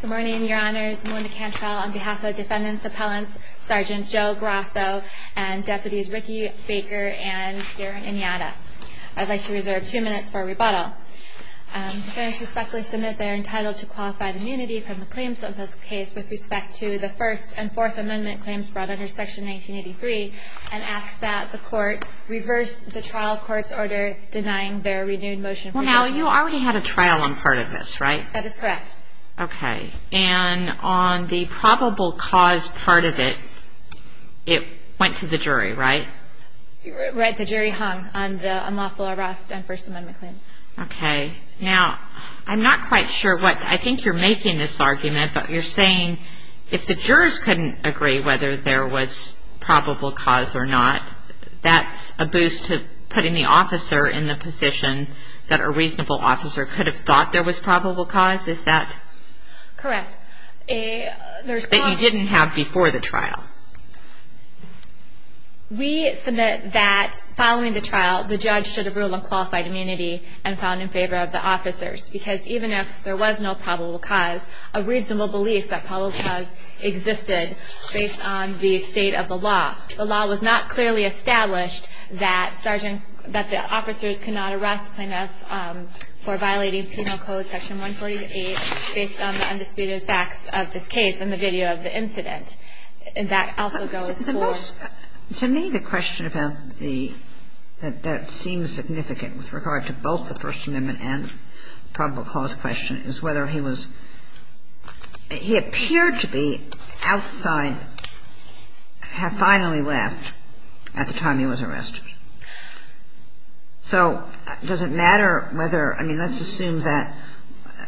Good morning, Your Honors. Melinda Cantrell on behalf of Defendant's Appellants Sgt. Joe Grasso and Deputies Ricky Baker and Darren Iñata. I'd like to reserve two minutes for rebuttal. Defendants respectfully submit they are entitled to qualified immunity from the claims of this case with respect to the First and Fourth Amendment claims brought under Section 1983 and ask that the Court reverse the trial court's order denying their renewed motion for dismissal. Well, now, you already had a trial on part of this, right? That is correct. Okay. And on the probable cause part of it, it went to the jury, right? Right. The jury hung on the unlawful arrest on First Amendment claims. Okay. Now, I'm not quite sure what ñ I think you're making this argument, but you're saying if the jurors couldn't agree whether there was probable cause or not, that's a boost to putting the officer in the position that a reasonable officer could have thought there was probable cause? Is that? Correct. That you didn't have before the trial. We submit that following the trial, the judge should have ruled on qualified immunity and found in favor of the officers, because even if there was no probable cause, a reasonable belief that probable cause existed based on the state of the law. The law was not clearly established that sergeant ñ that the officers could not arrest plaintiffs for violating Penal Code Section 148 based on the undisputed facts of this case in the video of the incident. And that also goes for ñ The most ñ to me, the question about the ñ that seems significant with regard to both the First Amendment and probable cause question is whether he was ñ he appeared to be outside ñ have finally left at the time he was arrested. So does it matter whether ñ I mean, let's assume that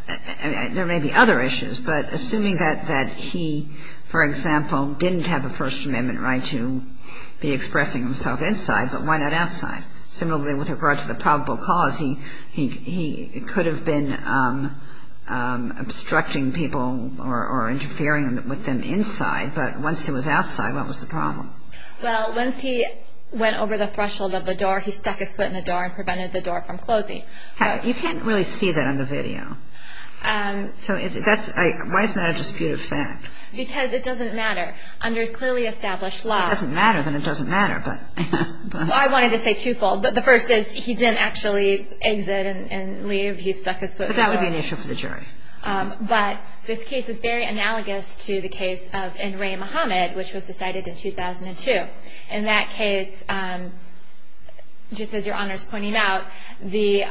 ñ there may be other issues, but assuming that he, for example, didn't have a First Amendment right to be expressing himself inside, but why not outside? Similarly, with regard to the probable cause, he could have been obstructing people or interfering with them inside, but once he was outside, what was the problem? Well, once he went over the threshold of the door, he stuck his foot in the door and prevented the door from closing. You can't really see that on the video. So is it ñ that's ñ why is that a disputed fact? Because it doesn't matter. Under clearly established law ñ If it doesn't matter, then it doesn't matter, but ñ Well, I wanted to say twofold. The first is he didn't actually exit and leave. He stuck his foot in the door. But that would be an issue for the jury. But this case is very analogous to the case of N. Ray Muhammad, which was decided in 2002. In that case, just as Your Honor's pointing out, the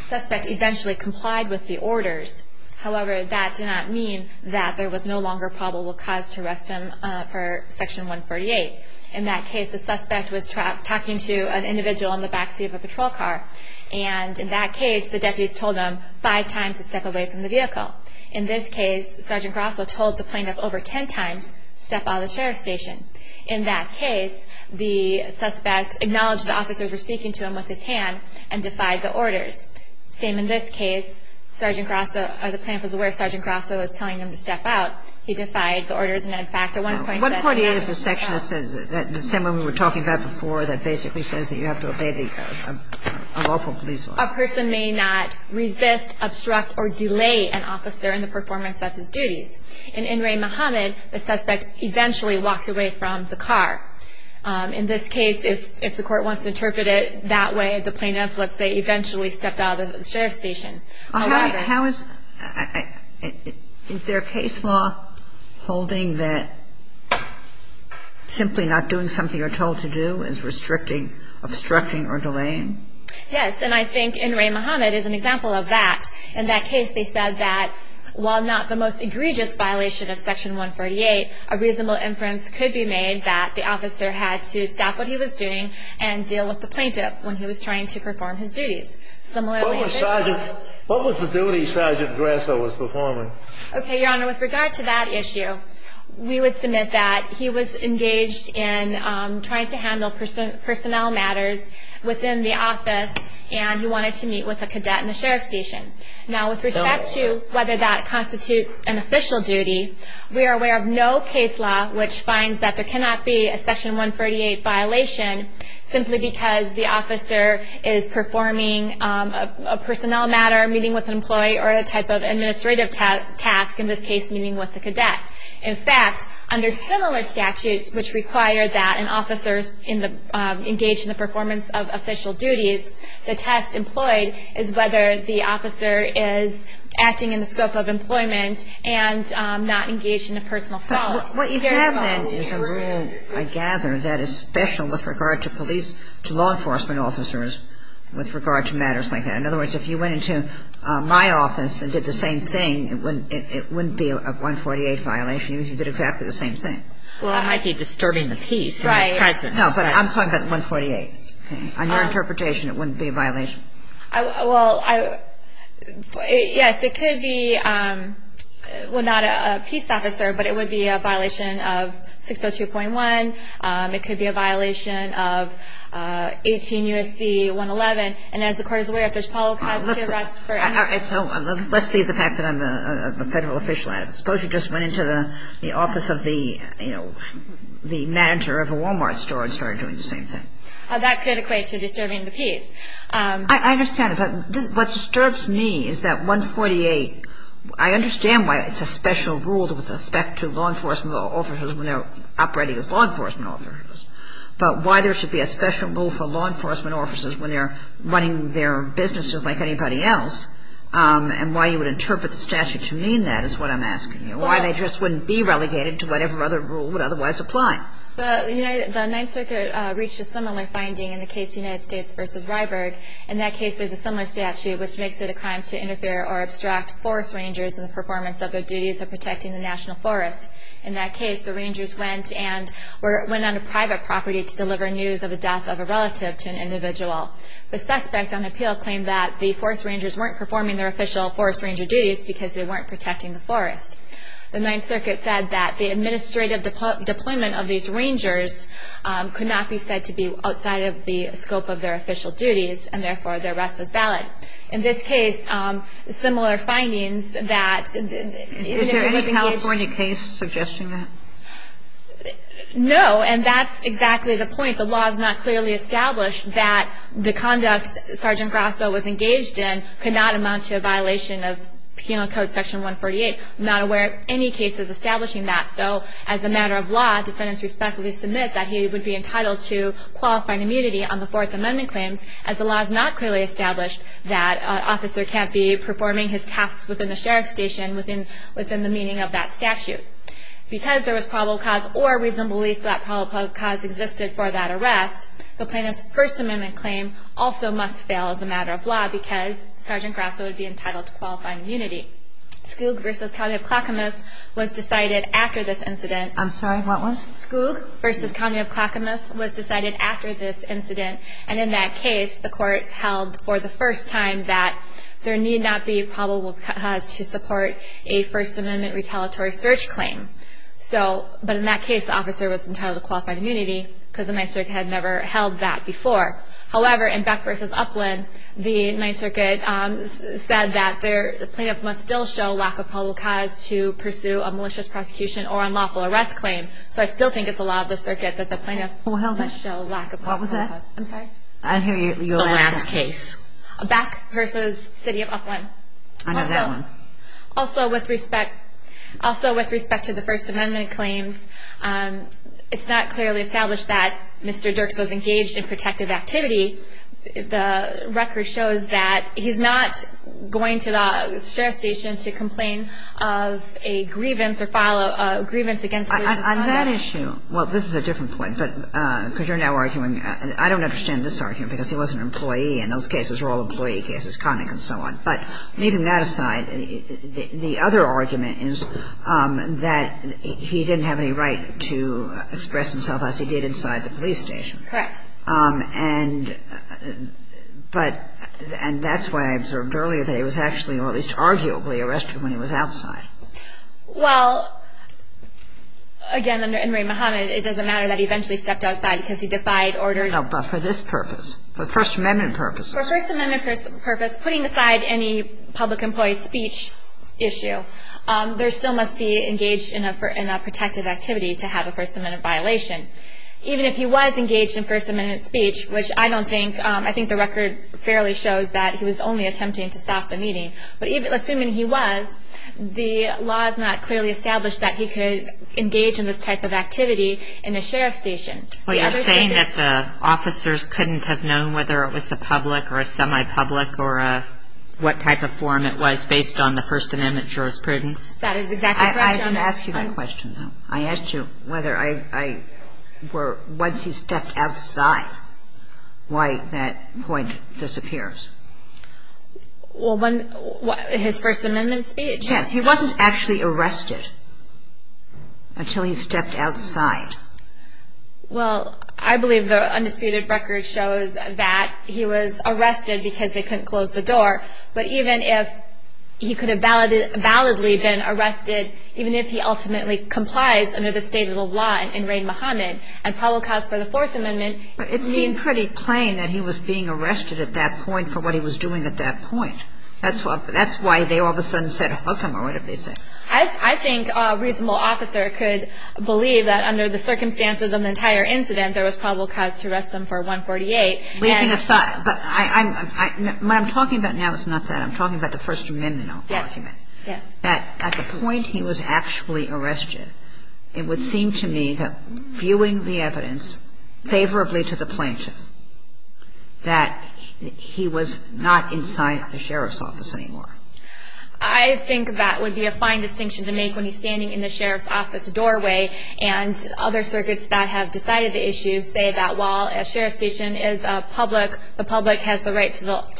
suspect eventually complied with the orders. However, that did not mean that there was no longer probable cause to arrest him for Section 148. In that case, the suspect was talking to an individual in the backseat of a patrol car. And in that case, the deputies told him five times to step away from the vehicle. In this case, Sergeant Grosso told the plaintiff over ten times, step out of the sheriff's station. In that case, the suspect acknowledged the officers were speaking to him with his hand and defied the orders. Same in this case. Sergeant Grosso ñ or the plaintiff was aware Sergeant Grosso was telling him to step out. He defied the orders. And in fact, at one point he said ñ What part is the section that says ñ the same one we were talking about before that basically says that you have to obey the lawful police law? A person may not resist, obstruct, or delay an officer in the performance of his duties. In N. Ray Muhammad, the suspect eventually walked away from the car. In this case, if the court wants to interpret it that way, the plaintiff, let's say, eventually stepped out of the sheriff's station. How is ñ is there a case law holding that simply not doing something you're told to do is restricting, obstructing, or delaying? Yes. And I think N. Ray Muhammad is an example of that. In that case, they said that while not the most egregious violation of Section 148, a reasonable inference could be made that the officer had to stop what he was doing and deal with the plaintiff when he was trying to perform his duties. What was the duty Sergeant Grasso was performing? Okay, Your Honor. With regard to that issue, we would submit that he was engaged in trying to handle personnel matters within the office and he wanted to meet with a cadet in the sheriff's station. Now, with respect to whether that constitutes an official duty, we are aware of no case law which finds that there cannot be a Section 148 violation simply because the officer is performing a personnel matter, meeting with an employee, or a type of administrative task, in this case meeting with a cadet. In fact, under similar statutes which require that an officer is engaged in the performance of official duties, the test employed is whether the officer is acting in the scope of employment and not engaged in a personal fault. What you have then is a rule, I gather, that is special with regard to police, to law enforcement officers with regard to matters like that. In other words, if you went into my office and did the same thing, it wouldn't be a 148 violation, even if you did exactly the same thing. Well, it might be disturbing the peace in the presence. Right. No, but I'm talking about 148. On your interpretation, it wouldn't be a violation. Well, yes, it could be. Well, not a peace officer, but it would be a violation of 602.1. It could be a violation of 18 U.S.C. 111. And as the Court is aware, if there's poli- All right, so let's leave the fact that I'm a Federal official out of it. Suppose you just went into the office of the, you know, the manager of a Wal-Mart store and started doing the same thing. That could equate to disturbing the peace. I understand, but what disturbs me is that 148, I understand why it's a special rule with respect to law enforcement officers when they're operating as law enforcement officers, but why there should be a special rule for law enforcement officers when they're running their businesses like anybody else, and why you would interpret the statute to mean that is what I'm asking you. Why they just wouldn't be relegated to whatever other rule would otherwise apply. The Ninth Circuit reached a similar finding in the case United States v. Ryberg. In that case, there's a similar statute which makes it a crime to interfere or abstract forest rangers in the performance of their duties of protecting the national forest. In that case, the rangers went and went on a private property to deliver news of the death of a relative to an individual. The suspect on appeal claimed that the forest rangers weren't performing their official forest ranger duties because they weren't protecting the forest. The Ninth Circuit said that the administrative deployment of these rangers could not be said to be outside of the scope of their official duties, and therefore their arrest was valid. In this case, similar findings that... Is there any California case suggesting that? No, and that's exactly the point. The law is not clearly established that the conduct Sergeant Grasso was engaged in could not amount to a violation of Penal Code Section 148, I'm not aware of any cases establishing that. So, as a matter of law, defendants respectfully submit that he would be entitled to qualifying immunity on the Fourth Amendment claims, as the law is not clearly established that an officer can't be performing his tasks within the sheriff's station within the meaning of that statute. Because there was probable cause or reasonable belief that probable cause existed for that arrest, the plaintiff's First Amendment claim also must fail as a matter of law because Sergeant Grasso would be entitled to qualifying immunity. Skoog v. County of Clackamas was decided after this incident. I'm sorry, what was? Skoog v. County of Clackamas was decided after this incident. And in that case, the Court held for the first time that there need not be probable cause to support a First Amendment retaliatory search claim. So, but in that case, the officer was entitled to qualify immunity because the Ninth Circuit had never held that before. However, in Beck v. Upland, the Ninth Circuit said that the plaintiff must still show lack of probable cause to pursue a malicious prosecution or unlawful arrest claim. So I still think it's the law of the circuit that the plaintiff must show lack of probable cause. What was that? I'm sorry. I didn't hear you. The last case. Beck v. City of Upland. I know that one. Also, with respect to the First Amendment claims, it's not clearly established that Mr. Dirks was engaged in protective activity. The record shows that he's not going to the sheriff's station to complain of a grievance or file a grievance against him. On that issue, well, this is a different point, but because you're now arguing I don't understand this argument because he was an employee and those cases were all employee cases, conning and so on. But leaving that aside, the other argument is that he didn't have any right to express himself as he did inside the police station. Correct. And that's why I observed earlier that he was actually, or at least arguably, arrested when he was outside. Well, again, under Inmari Muhammad, it doesn't matter that he eventually stepped outside because he defied orders. No, but for this purpose, for First Amendment purposes. For First Amendment purposes, putting aside any public employee speech issue, there still must be engaged in a protective activity to have a First Amendment violation. Even if he was engaged in First Amendment speech, which I don't think, I think the record fairly shows that he was only attempting to stop the meeting. But even assuming he was, the law is not clearly established that he could engage in this type of activity in a sheriff's station. Well, you're saying that the officers couldn't have known whether it was a public or a semi-public or what type of form it was based on the First Amendment jurisprudence? That is exactly correct, Your Honor. I didn't ask you that question, though. I asked you whether once he stepped outside, why that point disappears. Well, his First Amendment speech? Yes. He wasn't actually arrested until he stepped outside. Well, I believe the undisputed record shows that he was arrested because they couldn't close the door. But even if he could have validly been arrested, even if he ultimately complies under the state of the law in Reign Muhammad and probable cause for the Fourth Amendment. But it seemed pretty plain that he was being arrested at that point for what he was doing at that point. That's why they all of a sudden said, hook him, or whatever they said. I think a reasonable officer could believe that under the circumstances of the entire incident, there was probable cause to arrest him for 148. Leaving aside, what I'm talking about now is not that. I'm talking about the First Amendment argument. Yes. That at the point he was actually arrested, it would seem to me that viewing the evidence favorably to the plaintiff, that he was not inside the sheriff's office anymore. I think that would be a fine distinction to make when he's standing in the sheriff's office doorway. And other circuits that have decided the issue say that while a sheriff's station is public, the public has the right to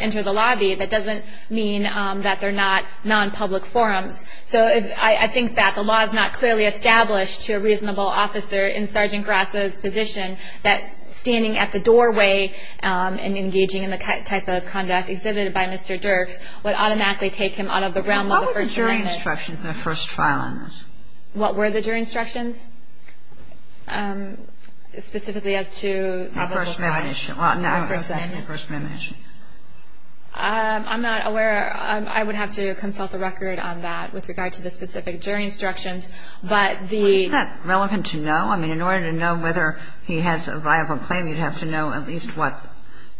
enter the lobby. That doesn't mean that they're not nonpublic forums. So I think that the law is not clearly established to a reasonable officer in Sergeant Grasso's position that standing at the doorway and engaging in the type of conduct exhibited by Mr. Dirks would automatically take him out of the realm of the First Amendment. What were the jury instructions in the first file on this? What were the jury instructions? Specifically as to probable cause. I'm not aware. I would have to consult the record on that with regard to the specific jury instructions. Isn't that relevant to know? I mean, in order to know whether he has a viable claim, you'd have to know at least what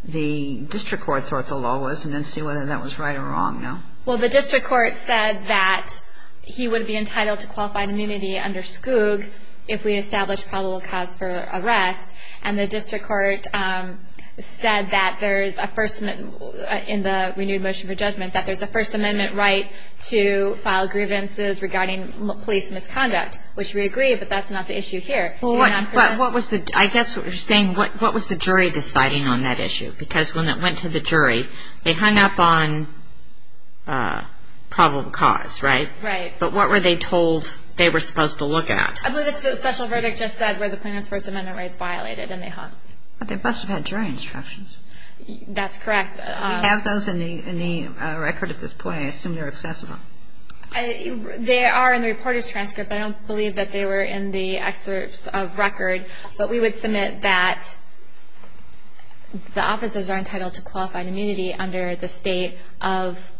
the district court thought the law was and then see whether that was right or wrong, no? Well, the district court said that he would be entitled to qualified immunity under Skoog if we established probable cause for arrest. And the district court said that there's a First Amendment in the renewed motion for judgment, that there's a First Amendment right to file grievances regarding police misconduct, which we agree, but that's not the issue here. But I guess what you're saying, what was the jury deciding on that issue? Because when it went to the jury, they hung up on probable cause, right? Right. But what were they told they were supposed to look at? I believe the special verdict just said where the plaintiff's First Amendment rights violated, and they hung. But they must have had jury instructions. That's correct. Do you have those in the record at this point? I assume they're accessible. They are in the reporter's transcript. I don't believe that they were in the excerpts of record. But we would submit that the officers are entitled to qualified immunity under the state of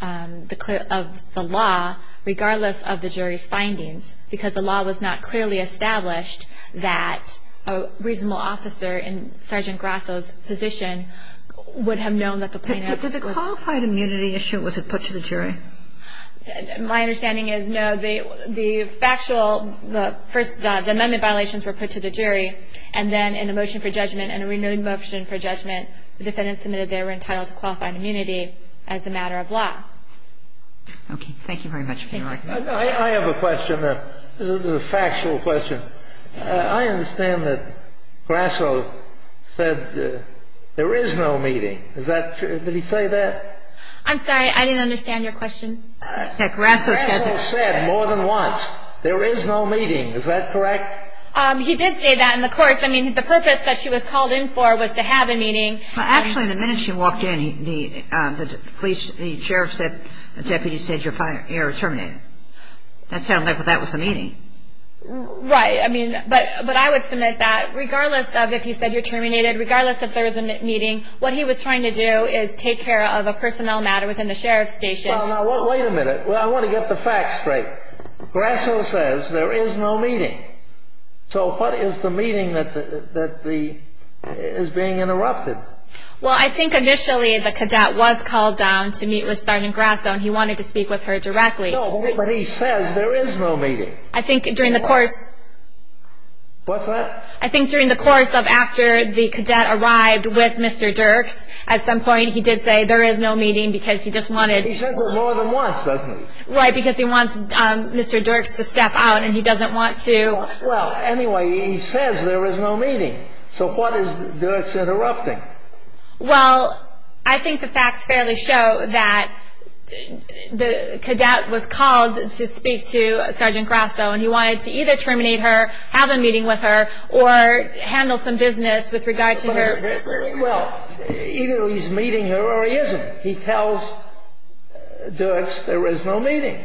the law, regardless of the jury's findings, because the law was not clearly established that a reasonable officer in Sergeant Grasso's position would have known that the plaintiff was. Did the qualified immunity issue, was it put to the jury? My understanding is, no. The factual, the First Amendment violations were put to the jury, and then in a motion for judgment, in a renewed motion for judgment, the defendants submitted they were entitled to qualified immunity as a matter of law. Thank you very much for your recognition. I have a question. This is a factual question. I understand that Grasso said there is no meeting. Is that true? Did he say that? I'm sorry. I didn't understand your question. Grasso said more than once there is no meeting. Is that correct? He did say that in the course. I mean, the purpose that she was called in for was to have a meeting. Actually, the minute she walked in, the police, the sheriff said, Deputy said you're terminated. That sounded like that was the meeting. Right. I mean, but I would submit that regardless of if he said you're terminated, regardless if there was a meeting, what he was trying to do is take care of a personnel matter within the sheriff's station. Wait a minute. I want to get the facts straight. Grasso says there is no meeting. So what is the meeting that is being interrupted? Well, I think initially the cadet was called down to meet Restart and Grasso, and he wanted to speak with her directly. No, but he says there is no meeting. I think during the course. What's that? I think during the course of after the cadet arrived with Mr. Dirks, at some point he did say there is no meeting because he just wanted. He says it more than once, doesn't he? Right, because he wants Mr. Dirks to step out and he doesn't want to. Well, anyway, he says there is no meeting. So what is Dirks interrupting? Well, I think the facts fairly show that the cadet was called to speak to Sergeant Grasso, and he wanted to either terminate her, have a meeting with her, or handle some business with regard to her. Well, either he's meeting her or he isn't. He tells Dirks there is no meeting.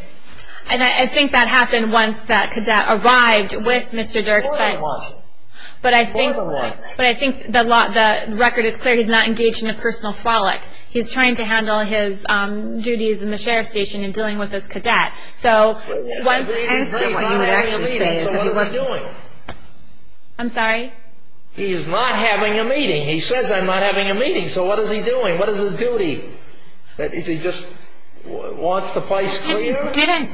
And I think that happened once that cadet arrived with Mr. Dirks. More than once. More than once. But I think the record is clear. He's not engaged in a personal folic. He's trying to handle his duties in the sheriff's station and dealing with this cadet. I'm sorry? He is not having a meeting. He says I'm not having a meeting. So what is he doing? What is his duty? Is he just wants the place clear? Didn't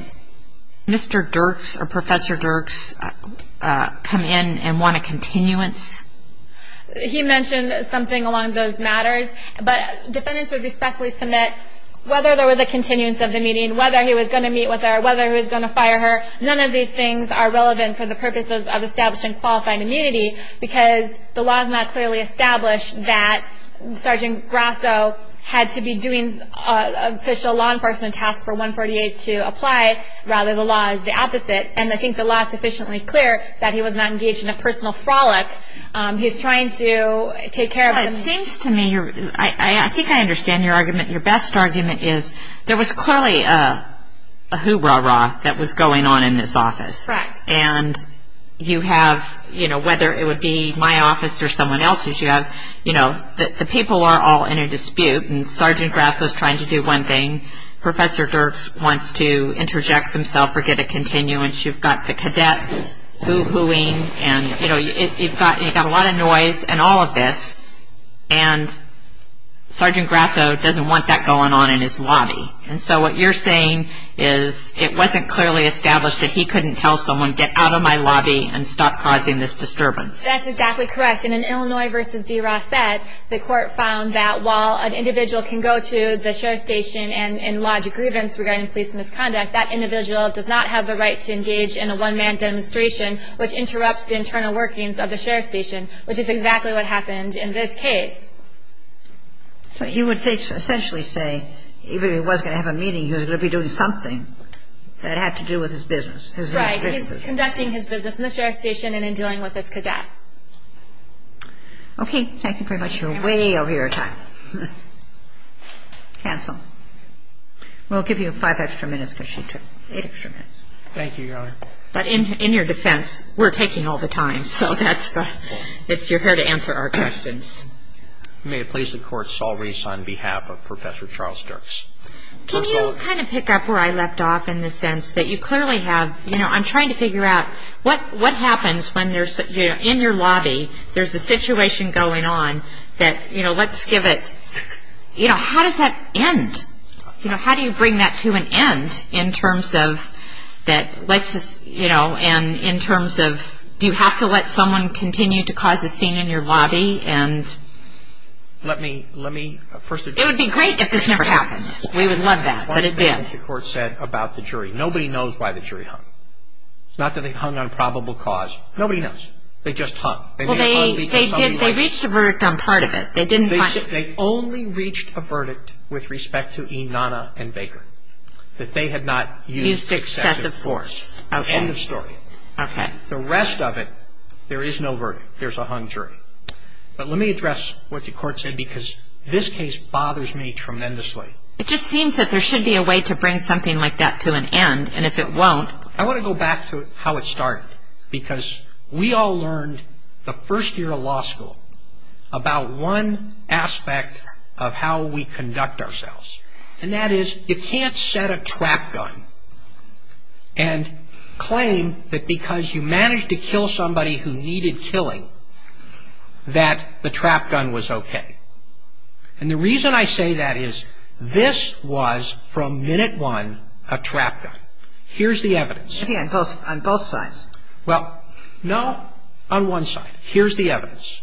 Mr. Dirks or Professor Dirks come in and want a continuance? He mentioned something along those matters. But defendants would respectfully submit whether there was a continuance of the meeting, whether he was going to meet with her, whether he was going to fire her. None of these things are relevant for the purposes of establishing qualified immunity because the law is not clearly established that Sergeant Grasso had to be doing an official law enforcement task for 148 to apply. Rather, the law is the opposite. And I think the law is sufficiently clear that he was not engaged in a personal folic. He's trying to take care of him. It seems to me, I think I understand your argument. Your best argument is there was clearly a hoo-rah-rah that was going on in this office. Correct. And you have, you know, whether it would be my office or someone else's, you have, you know, the people are all in a dispute and Sergeant Grasso is trying to do one thing. Professor Dirks wants to interject himself or get a continuance. You've got the cadet hoo-hooing and, you know, you've got a lot of noise and all of this. And Sergeant Grasso doesn't want that going on in his lobby. And so what you're saying is it wasn't clearly established that he couldn't tell someone, get out of my lobby and stop causing this disturbance. That's exactly correct. And in Illinois v. D. Rossett, the court found that while an individual can go to the sheriff's station and lodge a grievance regarding police misconduct, that individual does not have the right to engage in a one-man demonstration, which interrupts the internal workings of the sheriff's station, which is exactly what happened in this case. But you would essentially say even if he was going to have a meeting, he was going to be doing something that had to do with his business. Right. He's conducting his business in the sheriff's station and in dealing with this cadet. Okay. Thank you very much. You're way over your time. Cancel. We'll give you five extra minutes because she took eight extra minutes. Thank you, Your Honor. But in your defense, we're taking all the time. So it's your hair to answer our questions. May it please the Court, Saul Reese on behalf of Professor Charles Dirks. Can you kind of pick up where I left off in the sense that you clearly have, you know, I'm trying to figure out what happens when there's, you know, in your lobby, there's a situation going on that, you know, let's give it, you know, how does that end? You know, how do you bring that to an end in terms of that, you know, and in terms of do you have to let someone continue to cause a scene in your lobby? Let me first address that. It would be great if this never happened. We would love that. But it did. What the Court said about the jury. Nobody knows why the jury hung. It's not that they hung on probable cause. Nobody knows. They just hung. Well, they did. They reached a verdict on part of it. They didn't find it. They only reached a verdict with respect to Enana and Baker, that they had not used excessive force. Okay. End of story. Okay. The rest of it, there is no verdict. There's a hung jury. But let me address what the Court said because this case bothers me tremendously. It just seems that there should be a way to bring something like that to an end, and if it won't. I want to go back to how it started because we all learned the first year of law school about one aspect of how we conduct ourselves, and that is you can't set a trap gun and claim that because you managed to kill somebody who needed killing that the trap gun was okay. And the reason I say that is this was, from minute one, a trap gun. Here's the evidence. Okay. On both sides. Well, no, on one side. Here's the evidence.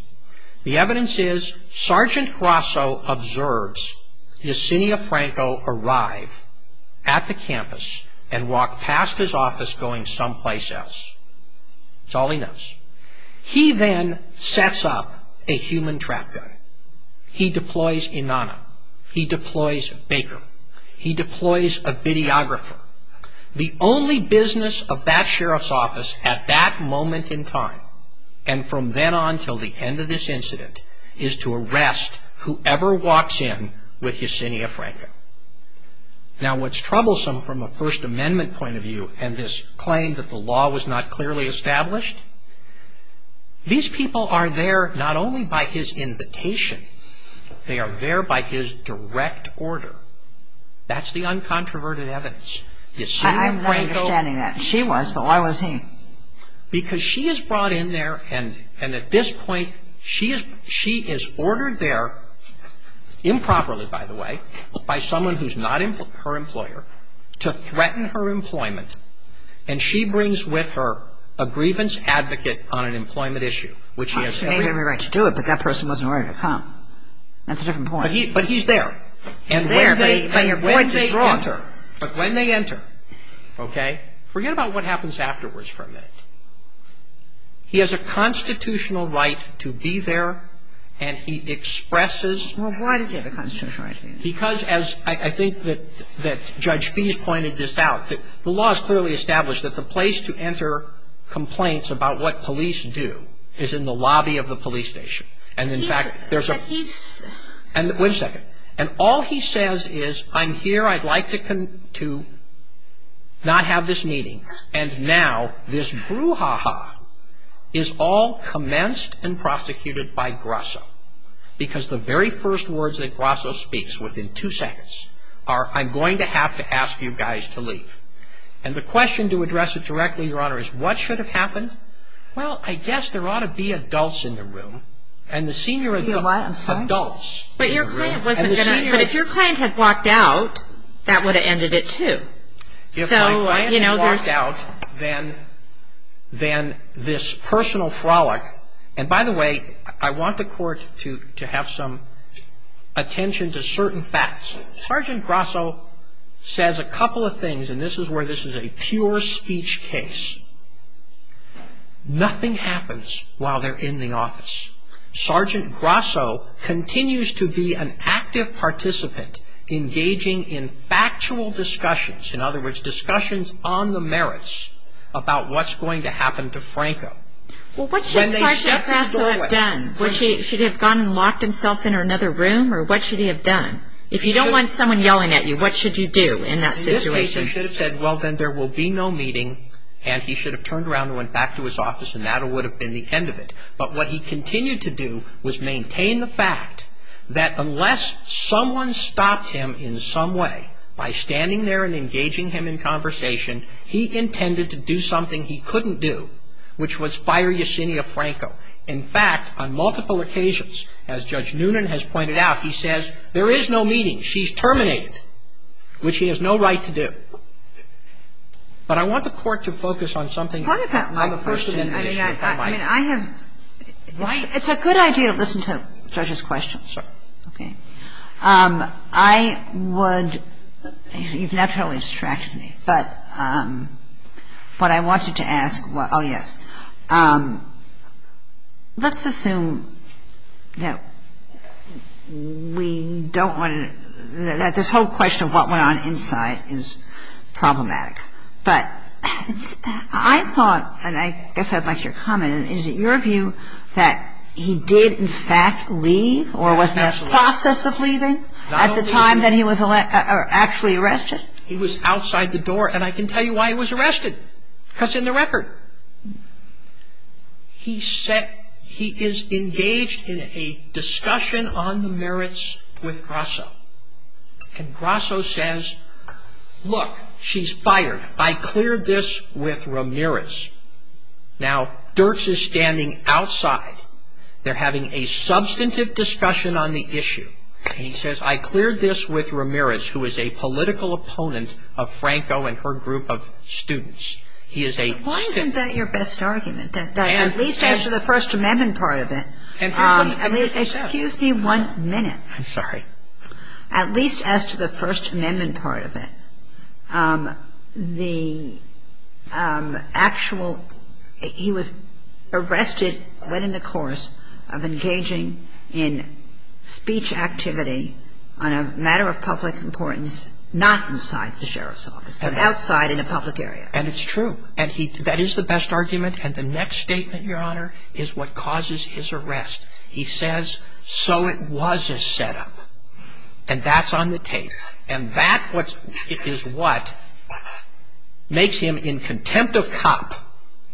The evidence is Sergeant Grasso observes Yesenia Franco arrive at the campus and walk past his office going someplace else. That's all he knows. He then sets up a human trap gun. He deploys Enana. He deploys Baker. He deploys a videographer. The only business of that sheriff's office at that moment in time and from then on until the end of this incident is to arrest whoever walks in with Yesenia Franco. Now, what's troublesome from a First Amendment point of view and this claim that the law was not clearly established, these people are there not only by his invitation. They are there by his direct order. That's the uncontroverted evidence. Yesenia Franco. I'm not understanding that. She was, but why was he? Because she is brought in there and at this point she is ordered there improperly, by the way, by someone who's not her employer to threaten her employment. And she brings with her a grievance advocate on an employment issue. She had every right to do it, but that person wasn't ready to come. That's a different point. But he's there. He's there, but you're going to draw him. But when they enter, okay, forget about what happens afterwards for a minute. He has a constitutional right to be there and he expresses. Well, why does he have a constitutional right to be there? Because as I think that Judge Fees pointed this out, the law is clearly established that the place to enter complaints about what police do is in the lobby of the police station. And, in fact, there's a... But he's... One second. And all he says is, I'm here, I'd like to not have this meeting. And now this brouhaha is all commenced and prosecuted by Grasso because the very first words that Grasso speaks within two seconds are, I'm going to have to ask you guys to leave. And the question, to address it directly, Your Honor, is what should have happened? Well, I guess there ought to be adults in the room. And the senior... I'm sorry? Adults in the room. But your client wasn't going to... And the senior... But if your client had walked out, that would have ended it too. So, you know, there's... If my client had walked out, then this personal frolic... And, by the way, I want the Court to have some attention to certain facts. Sergeant Grasso says a couple of things, and this is where this is a pure speech case. Nothing happens while they're in the office. Sergeant Grasso continues to be an active participant, engaging in factual discussions. In other words, discussions on the merits about what's going to happen to Franco. Well, what should Sergeant Grasso have done? Should he have gone and locked himself in another room, or what should he have done? If you don't want someone yelling at you, what should you do in that situation? In this case, he should have said, well, then there will be no meeting, and he should have turned around and went back to his office, and that would have been the end of it. But what he continued to do was maintain the fact that unless someone stopped him in some way by standing there and engaging him in conversation, he intended to do something he couldn't do, which was fire Yesenia Franco. In fact, on multiple occasions, as Judge Noonan has pointed out, he says, there is no meeting. She's terminated, which he has no right to do. But I want the Court to focus on something other than the first amendment issue, if I might. I mean, I have – it's a good idea to listen to judges' questions. Okay. I would – you've naturally distracted me, but I wanted to ask – oh, yes. Let's assume that we don't want to – that this whole question of what went on inside is problematic. But I thought, and I guess I'd like your comment, is it your view that he did, in fact, leave or was in the process of leaving at the time that he was actually arrested? He was outside the door, and I can tell you why he was arrested, because in the record, he is engaged in a discussion on the merits with Grasso. And Grasso says, look, she's fired. I cleared this with Ramirez. Now, Dirks is standing outside. They're having a substantive discussion on the issue, and he says, I cleared this with Ramirez, who is a political opponent of Franco and her group of students. He is a student. Why isn't that your best argument, that at least after the First Amendment part of it – And here's what he says. Excuse me one minute. I'm sorry. At least as to the First Amendment part of it, the actual – he was arrested, went in the course of engaging in speech activity on a matter of public importance, not inside the sheriff's office, but outside in a public area. And it's true. And that is the best argument. And the next statement, Your Honor, is what causes his arrest. He says, so it was a setup. And that's on the tape. And that is what makes him in contempt of COP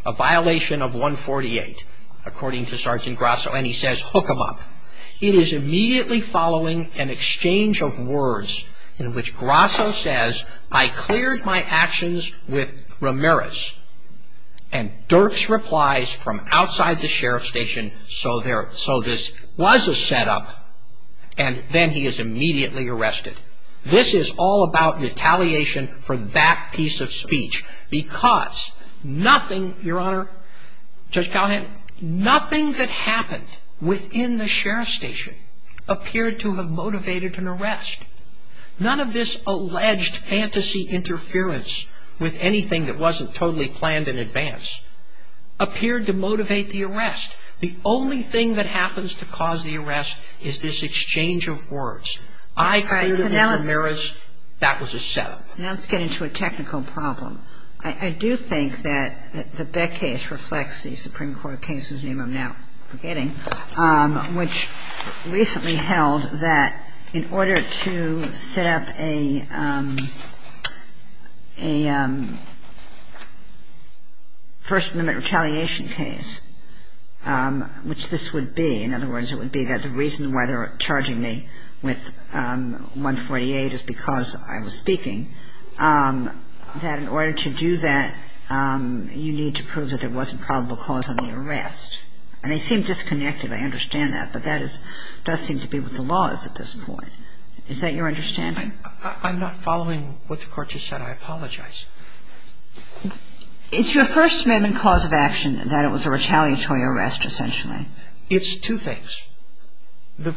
a violation of 148, according to Sergeant Grasso. And he says, hook him up. It is immediately following an exchange of words in which Grasso says, I cleared my actions with Ramirez. And Dirks replies from outside the sheriff's station, so this was a setup. And then he is immediately arrested. This is all about retaliation for that piece of speech. Because nothing, Your Honor, Judge Callahan, nothing that happened within the sheriff's station appeared to have motivated an arrest. None of this alleged fantasy interference with anything that wasn't totally planned in advance appeared to motivate the arrest. The only thing that happens to cause the arrest is this exchange of words. I cleared it with Ramirez. That was a setup. Now let's get into a technical problem. I do think that the Beck case reflects the Supreme Court case, whose name I'm now forgetting, which recently held that in order to set up a First Amendment retaliation case, which this would be, in other words, it would be that the reason why they were charging me with 148 is because I was speaking, that in order to do that, you need to prove that there wasn't probable cause on the arrest. And they seem disconnected. I understand that. But that does seem to be what the law is at this point. Is that your understanding? I'm not following what the Court just said. I apologize. It's your First Amendment cause of action that it was a retaliatory arrest, essentially. It's two things. The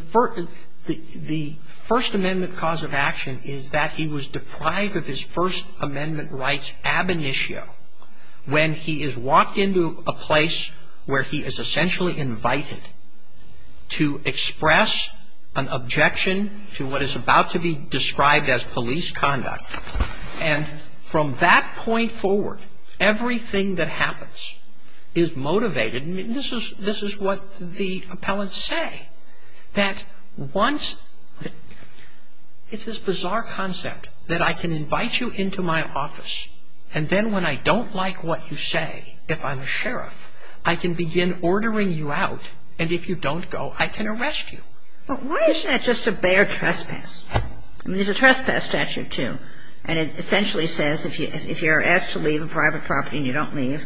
First Amendment cause of action is that he was deprived of his First Amendment rights ab initio when he is walked into a place where he is essentially invited to express an objection to what is about to be described as police conduct. And from that point forward, everything that happens is motivated. This is what the appellants say, that once the ‑‑ it's this bizarre concept that I can invite you into my office, and then when I don't like what you say, if I'm a sheriff, I can begin ordering you out. And if you don't go, I can arrest you. But why isn't that just a bare trespass? I mean, there's a trespass statute, too. And it essentially says if you're asked to leave a private property and you don't leave,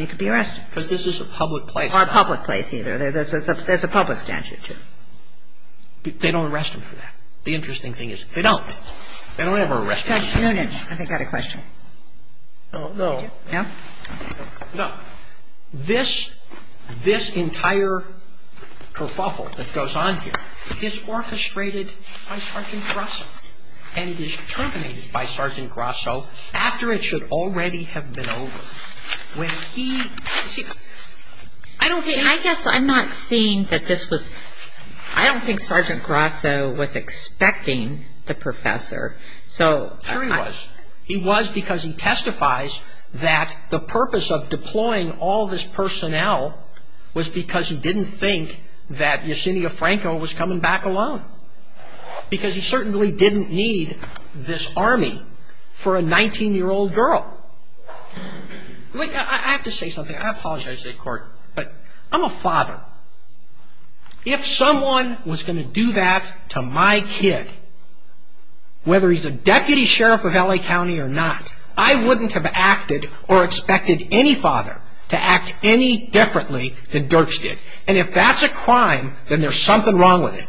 you could be arrested. Because this is a public place. Or a public place, either. There's a public statute, too. They don't arrest them for that. The interesting thing is they don't. They don't ever arrest them. No, no. I think I had a question. Oh, no. Yeah? No. This entire kerfuffle that goes on here is orchestrated by Sergeant Grasso and is terminated by Sergeant Grasso after it should already have been over. When he ‑‑ I guess I'm not seeing that this was ‑‑ I don't think Sergeant Grasso was expecting the professor. Sure he was. He was because he testifies that the purpose of deploying all this personnel was because he didn't think that Yesenia Franco was coming back alone. Because he certainly didn't need this army for a 19‑year‑old girl. I have to say something. I apologize to the court. But I'm a father. If someone was going to do that to my kid, whether he's a deputy sheriff of L.A. County or not, I wouldn't have acted or expected any father to act any differently than Dirks did. And if that's a crime, then there's something wrong with it.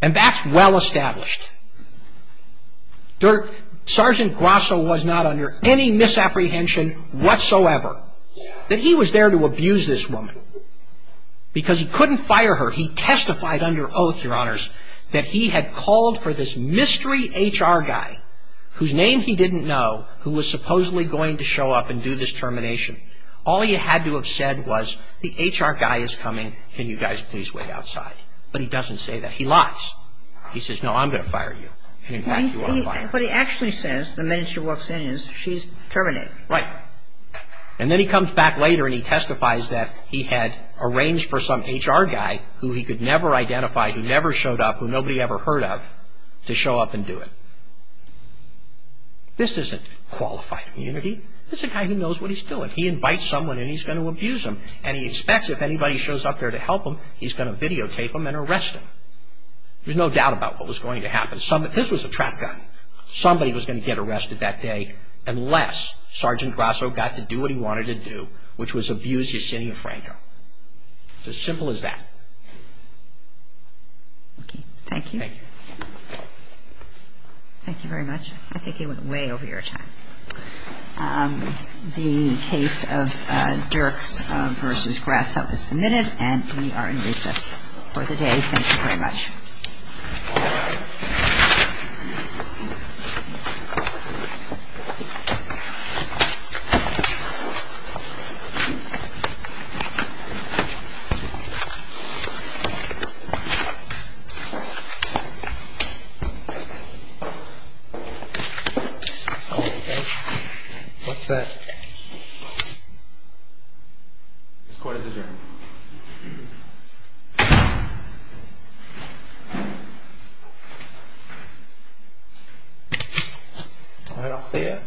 And that's well established. Sergeant Grasso was not under any misapprehension whatsoever that he was there to abuse this woman. Because he couldn't fire her. He testified under oath, Your Honors, that he had called for this mystery HR guy whose name he didn't know who was supposedly going to show up and do this termination. All he had to have said was, the HR guy is coming. Can you guys please wait outside? But he doesn't say that. He lies. He says, no, I'm going to fire you. In fact, you ought to fire me. What he actually says the minute she walks in is, she's terminated. Right. And then he comes back later and he testifies that he had arranged for some HR guy who he could never identify, who never showed up, who nobody ever heard of, to show up and do it. This isn't qualified immunity. This is a guy who knows what he's doing. He invites someone and he's going to abuse them. And he expects if anybody shows up there to help him, he's going to videotape them and arrest them. There's no doubt about what was going to happen. This was a trap gun. Somebody was going to get arrested that day unless Sergeant Grasso got to do what he wanted to do, which was abuse Yesenia Franco. It's as simple as that. Okay. Thank you. Thank you. Thank you very much. I think you went way over your time. The case of Dirks v. Grasso is submitted and we are in recess for the day. Thank you very much. What's that? This court is adjourned. Thank you. All right, I'll see you. Thank you.